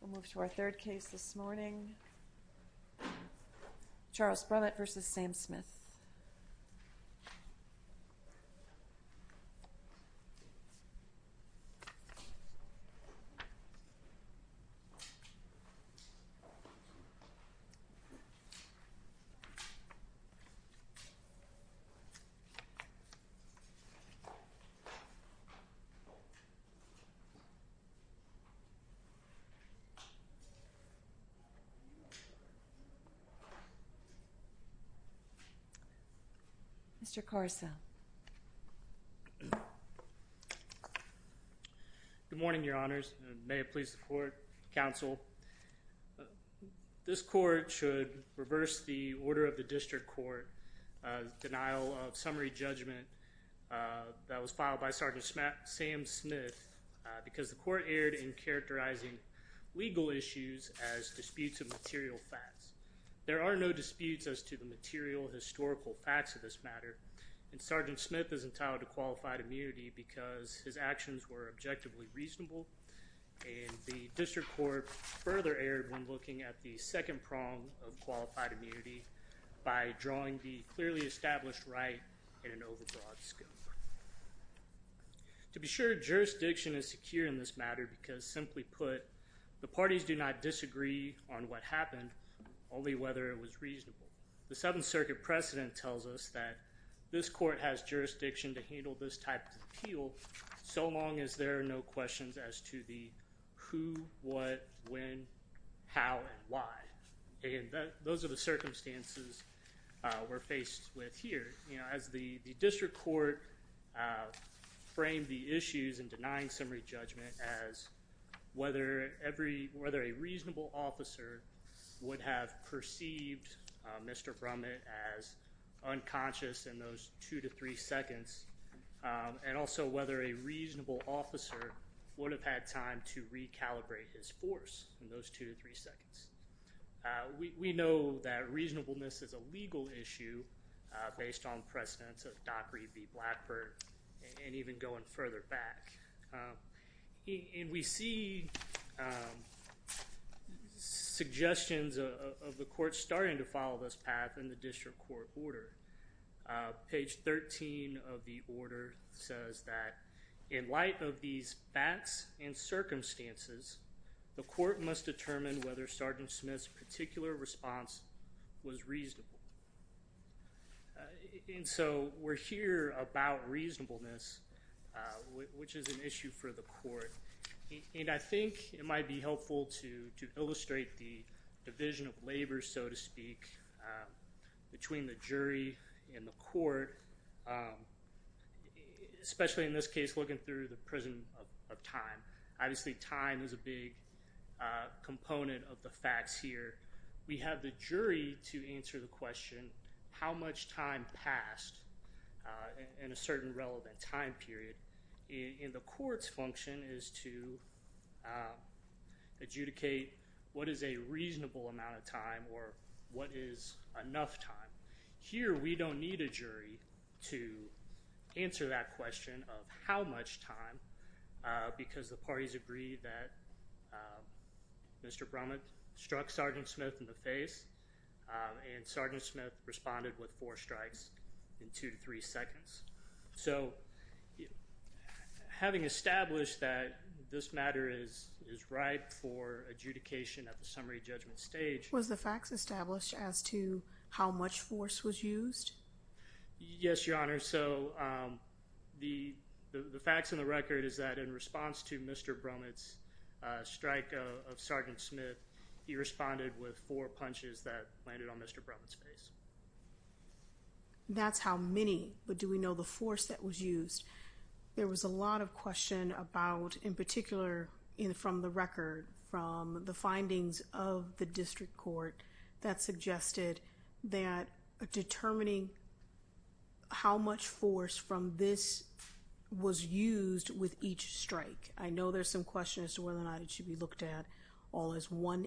We'll move to our third case this morning, Charles Brumitt v. Sam Smith. Charles Brumitt v. Sam Smith Good morning, Your Honors, and may it please the Court, Counsel. This Court should reverse the Order of the District Court's denial of summary judgment that was filed by Sgt. Sam Smith because the Court erred in characterizing legal issues as disputes of material facts. There are no disputes as to the material historical facts of this matter, and Sgt. Smith is entitled to qualified immunity because his actions were objectively reasonable, and the District Court further erred when looking at the second prong of qualified immunity by drawing the clearly established right in an overbroad scope. To be sure, jurisdiction is secure in this matter because, simply put, the parties do not disagree on what happened, only whether it was reasonable. The Seventh Circuit precedent tells us that this Court has jurisdiction to handle this type of appeal so long as there are no questions as to the who, what, when, how, and why. Again, those are the circumstances we're faced with here. As the District Court framed the issues in denying summary judgment as whether a reasonable officer would have perceived Mr. Brumitt as unconscious in those two to three seconds, and also whether a reasonable officer would have had time to recalibrate his force in those two to three seconds. We know that reasonableness is a legal issue based on precedents of Dockery v. Blackburn and even going further back. We see suggestions of the Court starting to follow this path in the District Court order. Page 13 of the order says that in light of these facts and circumstances, the Court must determine whether Sergeant Smith's particular response was reasonable. And so we're here about reasonableness, which is an issue for the Court, and I think it might be helpful to illustrate the division of labor, so to speak, between the jury and the Court, especially in this case looking through the prison of time. Obviously, time is a big component of the facts here. We have the jury to answer the question, how much time passed in a certain relevant time period? And the Court's function is to adjudicate what is a reasonable amount of time or what is enough time. Here we don't need a jury to answer that question of how much time because the parties agree that Mr. Brummett struck Sergeant Smith in the face and Sergeant Smith responded with four strikes in two to three seconds. So having established that this matter is ripe for adjudication at the summary judgment Was the facts established as to how much force was used? Yes, Your Honor. So the facts in the record is that in response to Mr. Brummett's strike of Sergeant Smith, he responded with four punches that landed on Mr. Brummett's face. That's how many, but do we know the force that was used? There was a lot of question about, in particular from the record, from the findings of the District Court that suggested that determining how much force from this was used with each strike. I know there's some question as to whether or not it should be looked at all as one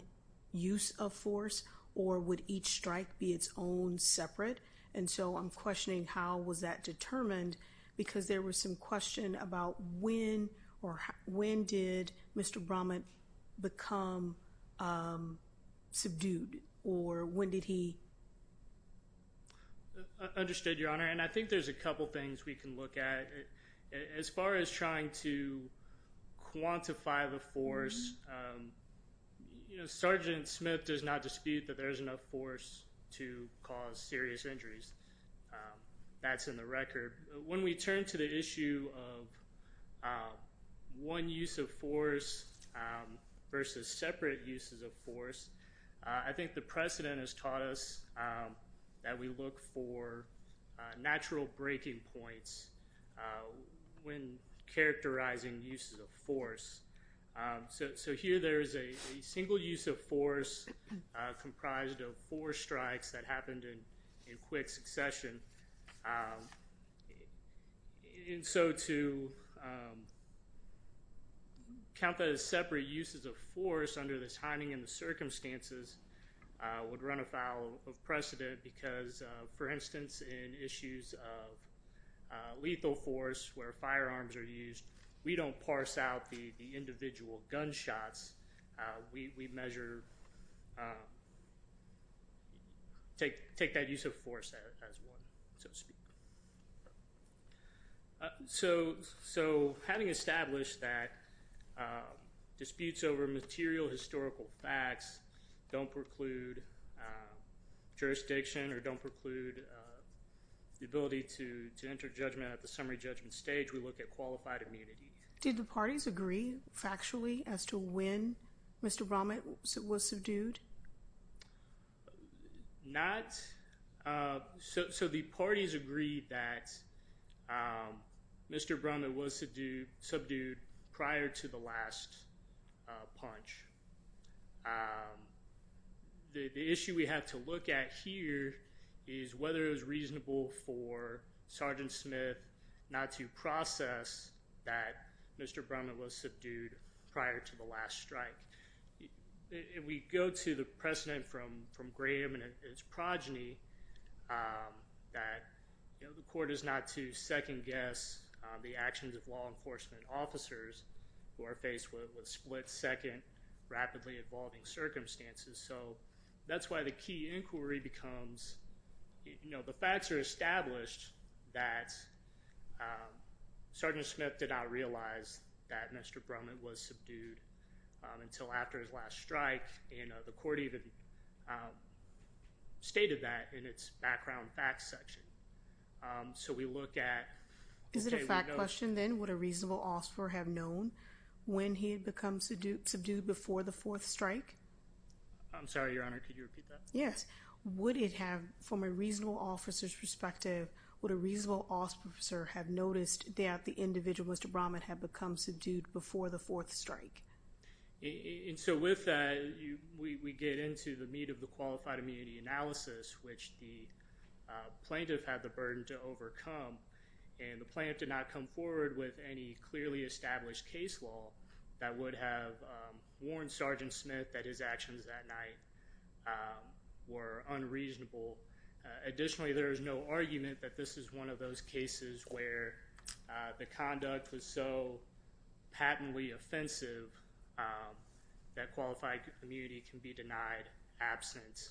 use of force or would each strike be its own separate? And so I'm questioning how was that determined because there was some question about when when did Mr. Brummett become subdued or when did he? Understood, Your Honor, and I think there's a couple things we can look at. As far as trying to quantify the force, Sergeant Smith does not dispute that there's enough force to cause serious injuries. That's in the record. When we turn to the issue of one use of force versus separate uses of force, I think the precedent has taught us that we look for natural breaking points when characterizing uses of force. So here there is a single use of force comprised of four strikes that happened in quick succession. And so to count that as separate uses of force under the timing and the circumstances would run afoul of precedent because, for instance, in issues of lethal force where firearms are individual gunshots, we measure, take that use of force as one, so to speak. So having established that disputes over material historical facts don't preclude jurisdiction or don't preclude the ability to enter judgment at the summary judgment stage, we look at qualified immunity. Did the parties agree factually as to when Mr. Brommett was subdued? Not. So the parties agreed that Mr. Brommett was subdued prior to the last punch. The issue we have to look at here is whether it was reasonable for Sergeant Smith not to process that Mr. Brommett was subdued prior to the last strike. We go to the precedent from Graham and his progeny that the court is not to second-guess the actions of law enforcement officers who are faced with split-second, rapidly-evolving circumstances. So that's why the key inquiry becomes, you know, the facts are established that Sergeant Smith did not realize that Mr. Brommett was subdued until after his last strike, and the court even stated that in its background facts section. So we look at... Is it a fact question, then, would a reasonable officer have known when he had become subdued before the fourth strike? I'm sorry, Your Honor, could you repeat that? Yes. Would it have, from a reasonable officer's perspective, would a reasonable officer have noticed that the individual, Mr. Brommett, had become subdued before the fourth strike? And so with that, we get into the meat of the qualified immunity analysis, which the plaintiff had the burden to overcome, and the plaintiff did not come forward with any clearly established case law that would have warned Sergeant Smith that his actions that night were unreasonable. Additionally, there is no argument that this is one of those cases where the conduct was so patently offensive that qualified immunity can be denied absence,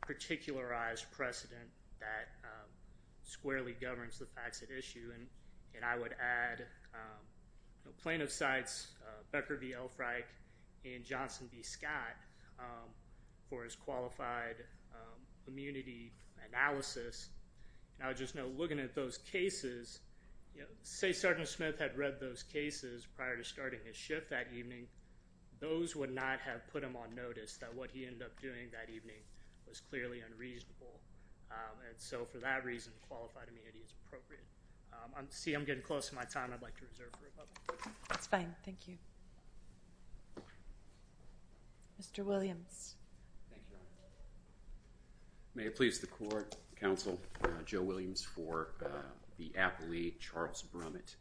particularized precedent that squarely governs the facts at issue. And I would add plaintiff's sides, Becker v. Elfreich and Johnson v. Scott, for his qualified immunity analysis, and I would just note, looking at those cases, say Sergeant Smith had read those cases prior to starting his shift that evening, those would not have put him on notice that what he ended up doing that evening was clearly unreasonable. And so for that reason, qualified immunity is appropriate. See, I'm getting close to my time. I'd like to reserve for a moment. That's fine. Thank you. Mr. Williams. Thank you, Your Honor. May it please the court, counsel, Joe Williams for the appellee, Charles Brommett.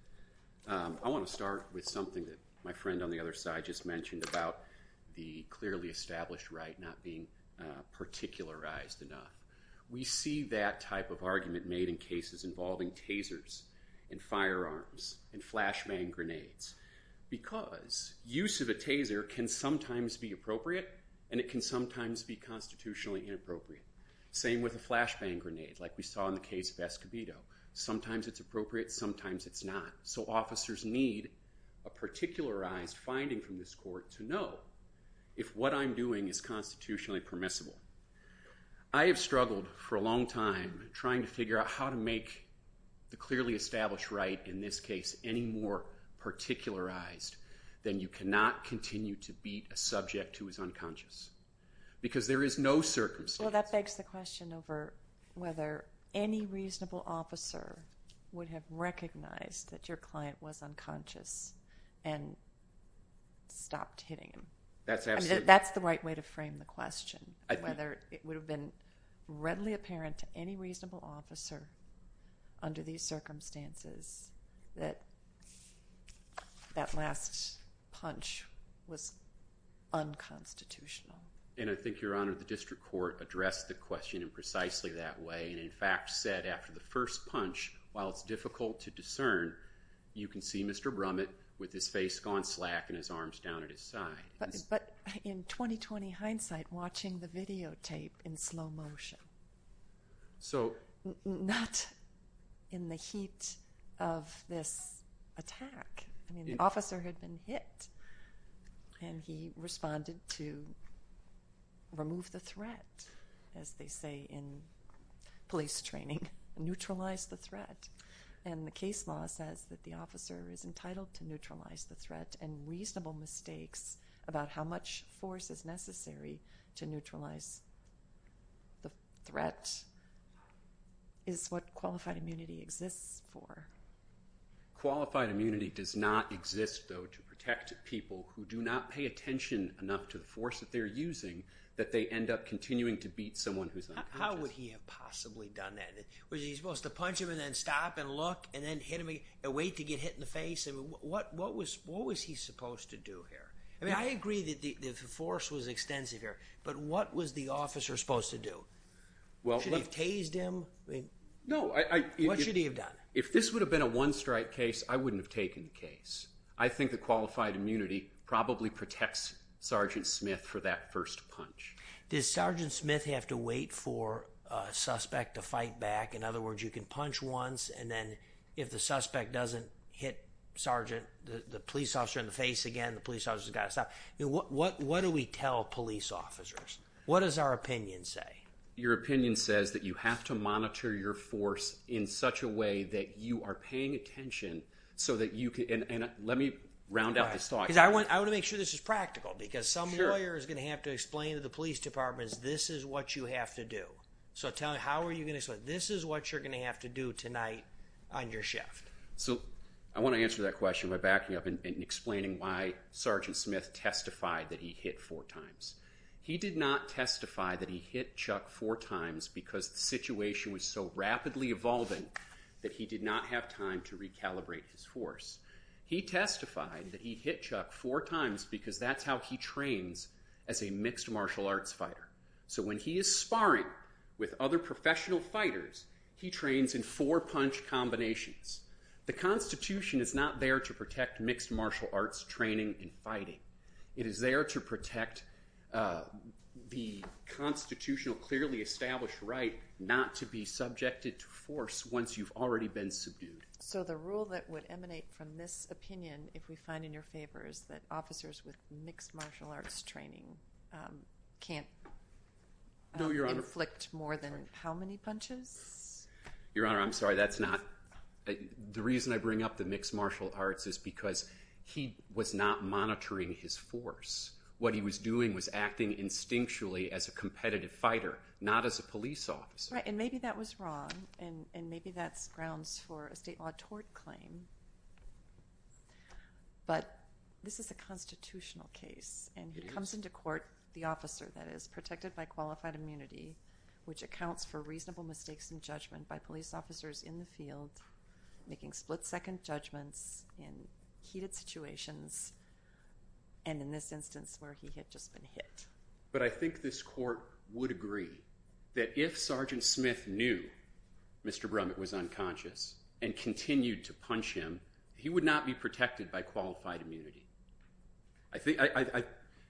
I want to start with something that my friend on the other side just mentioned about the We see that type of argument made in cases involving tasers and firearms and flashbang grenades because use of a taser can sometimes be appropriate and it can sometimes be constitutionally inappropriate. Same with a flashbang grenade, like we saw in the case of Escobedo. Sometimes it's appropriate, sometimes it's not. So officers need a particularized finding from this court to know if what I'm doing is constitutionally permissible. I have struggled for a long time trying to figure out how to make the clearly established right in this case any more particularized than you cannot continue to beat a subject who is unconscious because there is no circumstance. Well, that begs the question over whether any reasonable officer would have recognized that your client was unconscious and stopped hitting him. That's the right way to frame the question, whether it would have been readily apparent to any reasonable officer under these circumstances that that last punch was unconstitutional. And I think, Your Honor, the district court addressed the question in precisely that way and in fact said after the first punch, while it's difficult to discern, you can see Mr. Brommett with his face gone slack and his arms down at his side. But in 20-20 hindsight, watching the videotape in slow motion, not in the heat of this attack. I mean, the officer had been hit and he responded to remove the threat, as they say in police training, neutralize the threat. And the case law says that the officer is entitled to neutralize the threat and reasonable mistakes about how much force is necessary to neutralize the threat is what qualified immunity exists for. Qualified immunity does not exist, though, to protect people who do not pay attention enough to the force that they're using that they end up continuing to beat someone who's unconscious. How would he have possibly done that? Was he supposed to punch him and then stop and look and then hit him and wait to get hit in the face? What was he supposed to do here? I mean, I agree that the force was extensive here, but what was the officer supposed to do? Should he have tased him? What should he have done? If this would have been a one-strike case, I wouldn't have taken the case. I think the qualified immunity probably protects Sergeant Smith for that first punch. Does Sergeant Smith have to wait for a suspect to fight back? In other words, you can punch once, and then if the suspect doesn't hit the police officer in the face again, the police officer's got to stop. What do we tell police officers? What does our opinion say? Your opinion says that you have to monitor your force in such a way that you are paying attention so that you can... Let me round out this thought. I want to make sure this is practical, because some lawyer is going to have to explain to the police department, this is what you have to do. So tell me, how are you going to explain? This is what you're going to have to do tonight on your shift. So I want to answer that question by backing up and explaining why Sergeant Smith testified that he hit four times. He did not testify that he hit Chuck four times because the situation was so rapidly evolving that he did not have time to recalibrate his force. He testified that he hit Chuck four times because that's how he trains as a mixed martial arts fighter. So when he is sparring with other professional fighters, he trains in four punch combinations. The Constitution is not there to protect mixed martial arts training in fighting. It is there to protect the constitutional, clearly established right not to be subjected to force once you've already been subdued. So the rule that would emanate from this opinion, if we find in your favor, is that officers with mixed martial arts training can't inflict more than how many punches? Your Honor, I'm sorry, that's not, the reason I bring up the mixed martial arts is because he was not monitoring his force. What he was doing was acting instinctually as a competitive fighter, not as a police officer. Right, and maybe that was wrong, and maybe that's grounds for a state law tort claim. But this is a constitutional case, and he comes into court, the officer that is, protected by qualified immunity, which accounts for reasonable mistakes in judgment by police officers in the field, making split-second judgments in heated situations, and in this instance where he had just been hit. But I think this court would agree that if Sergeant Smith knew Mr. Brummett was unconscious and continued to punch him, he would not be protected by qualified immunity. I think,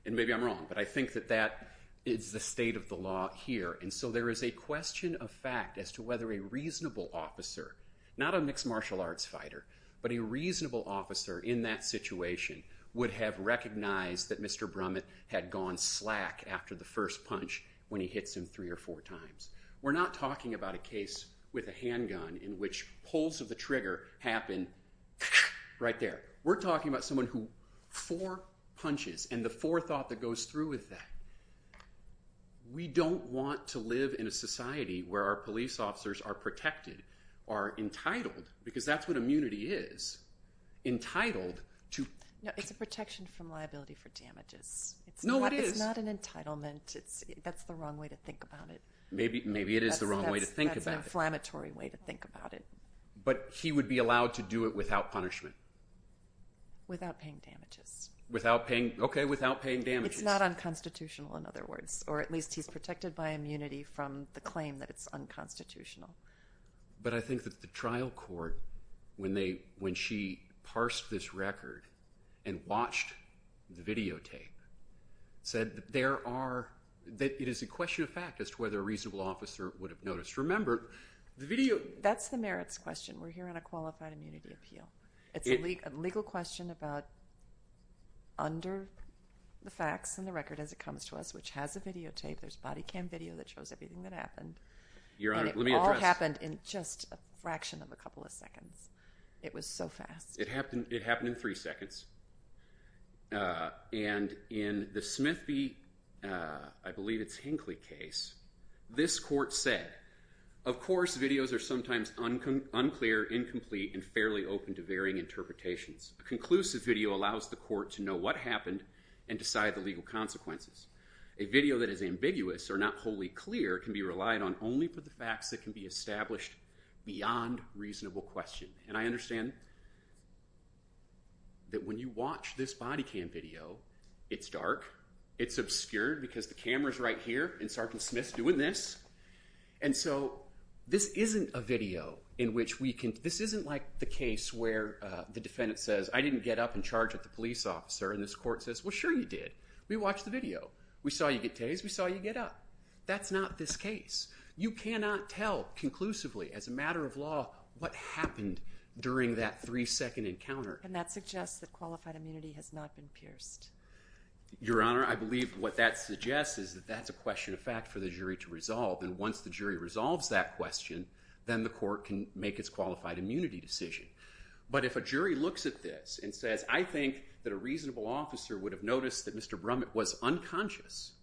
and maybe I'm wrong, but I think that that is the state of the law here, and so there is a question of fact as to whether a reasonable officer, not a mixed martial arts fighter, but a reasonable officer in that situation would have recognized that Mr. Brummett had gone slack after the first punch when he hits him three or four times. We're not talking about a case with a handgun in which pulls of the trigger happen right there. We're talking about someone who four punches, and the forethought that goes through with that. We don't want to live in a society where our police officers are protected, are entitled, because that's what immunity is, entitled to- No, it's a protection from liability for damages. No, it is. It's not an entitlement. That's the wrong way to think about it. Maybe it is the wrong way to think about it. That's an inflammatory way to think about it. But he would be allowed to do it without punishment? Without paying damages. Without paying, okay, without paying damages. It's not unconstitutional, in other words, or at least he's protected by immunity from the claim that it's unconstitutional. But I think that the trial court, when she parsed this record and watched the videotape, said that it is a question of fact as to whether a reasonable officer would have noticed. Remember, the video- That's the merits question. We're here on a qualified immunity appeal. It's a legal question about under the facts and the record as it comes to us, which has a videotape. There's body cam video that shows everything that happened. Your Honor, let me address- And it all happened in just a fraction of a couple of seconds. It was so fast. It happened in three seconds. And in the Smith v., I believe it's Hinckley case, this court said, of course videos are sometimes unclear, incomplete, and fairly open to varying interpretations. A conclusive video allows the court to know what happened and decide the legal consequences. A video that is ambiguous or not wholly clear can be relied on only for the facts that can be established beyond reasonable question. And I understand that when you watch this body cam video, it's dark. It's obscured because the camera's right here and Sergeant Smith's doing this. And so this isn't a video in which we can- This isn't like the case where the defendant says, I didn't get up and charge at the police officer and this court says, well, sure you did. We watched the video. We saw you get tased. We saw you get up. That's not this case. You cannot tell conclusively as a matter of law what happened during that three-second encounter. And that suggests that qualified immunity has not been pierced. Your Honor, I believe what that suggests is that that's a question of fact for the jury to resolve. And once the jury resolves that question, then the court can make its qualified immunity decision. But if a jury looks at this and says, I think that a reasonable officer would have noticed that Mr. Brummett was unconscious,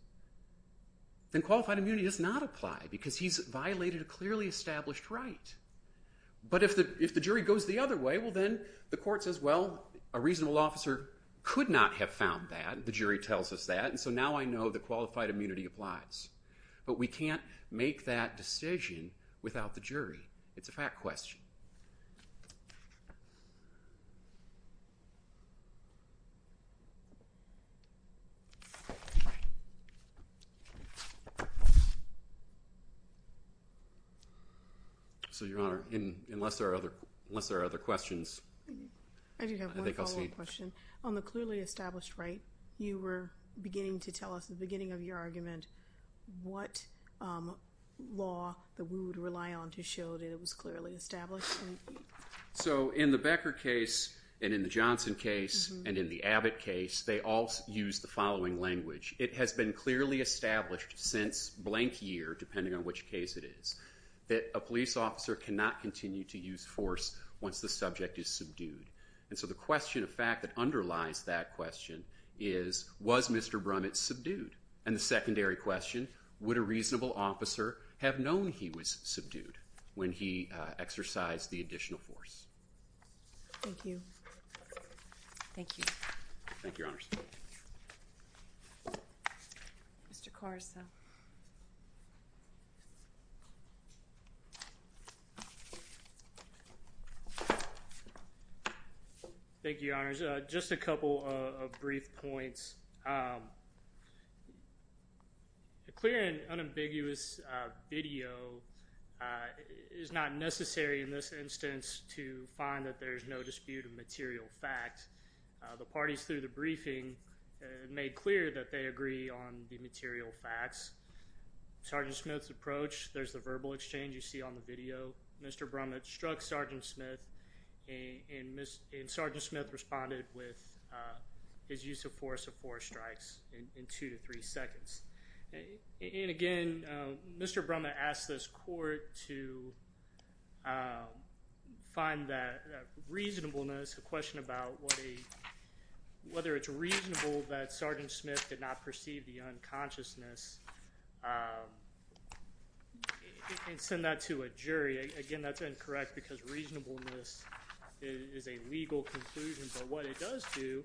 then qualified immunity does not apply because he's violated a clearly established right. But if the jury goes the other way, well, then the court says, well, a reasonable officer could not have found that. The jury tells us that. And so now I know that qualified immunity applies. But we can't make that decision without the jury. It's a fact question. Thank you. So, Your Honor, unless there are other questions, I think I'll see you. I do have one follow-up question. On the clearly established right, you were beginning to tell us at the beginning of your So in the Becker case, and in the Johnson case, and in the Abbott case, they all use the following language. It has been clearly established since blank year, depending on which case it is, that a police officer cannot continue to use force once the subject is subdued. And so the question of fact that underlies that question is, was Mr. Brummett subdued? And the secondary question, would a reasonable officer have known he was subdued when he exercised the additional force? Thank you. Thank you. Thank you, Your Honor. Mr. Caruso. Thank you, Your Honor. Just a couple of brief points. to find that there's no dispute of material fact. The parties through the briefing made clear that they agree on the material facts. Sergeant Smith's approach, there's the verbal exchange you see on the video. Mr. Brummett struck Sergeant Smith, and Sergeant Smith responded with his use of force of four strikes in two to three seconds. And again, Mr. Brummett asked this court to find that reasonableness, a question about whether it's reasonable that Sergeant Smith did not perceive the unconsciousness and send that to a jury. Again, that's incorrect because reasonableness is a legal conclusion. But what it does do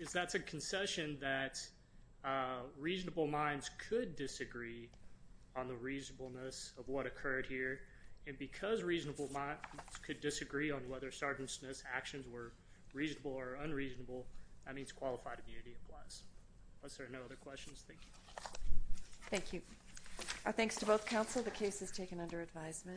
is that's a concession that reasonable minds could disagree on the reasonableness of what occurred here. And because reasonable minds could disagree on whether Sergeant Smith's actions were reasonable or unreasonable, that means qualified immunity applies. Unless there are no other questions, thank you. Thank you. Our thanks to both counsel. The case is taken under advisement.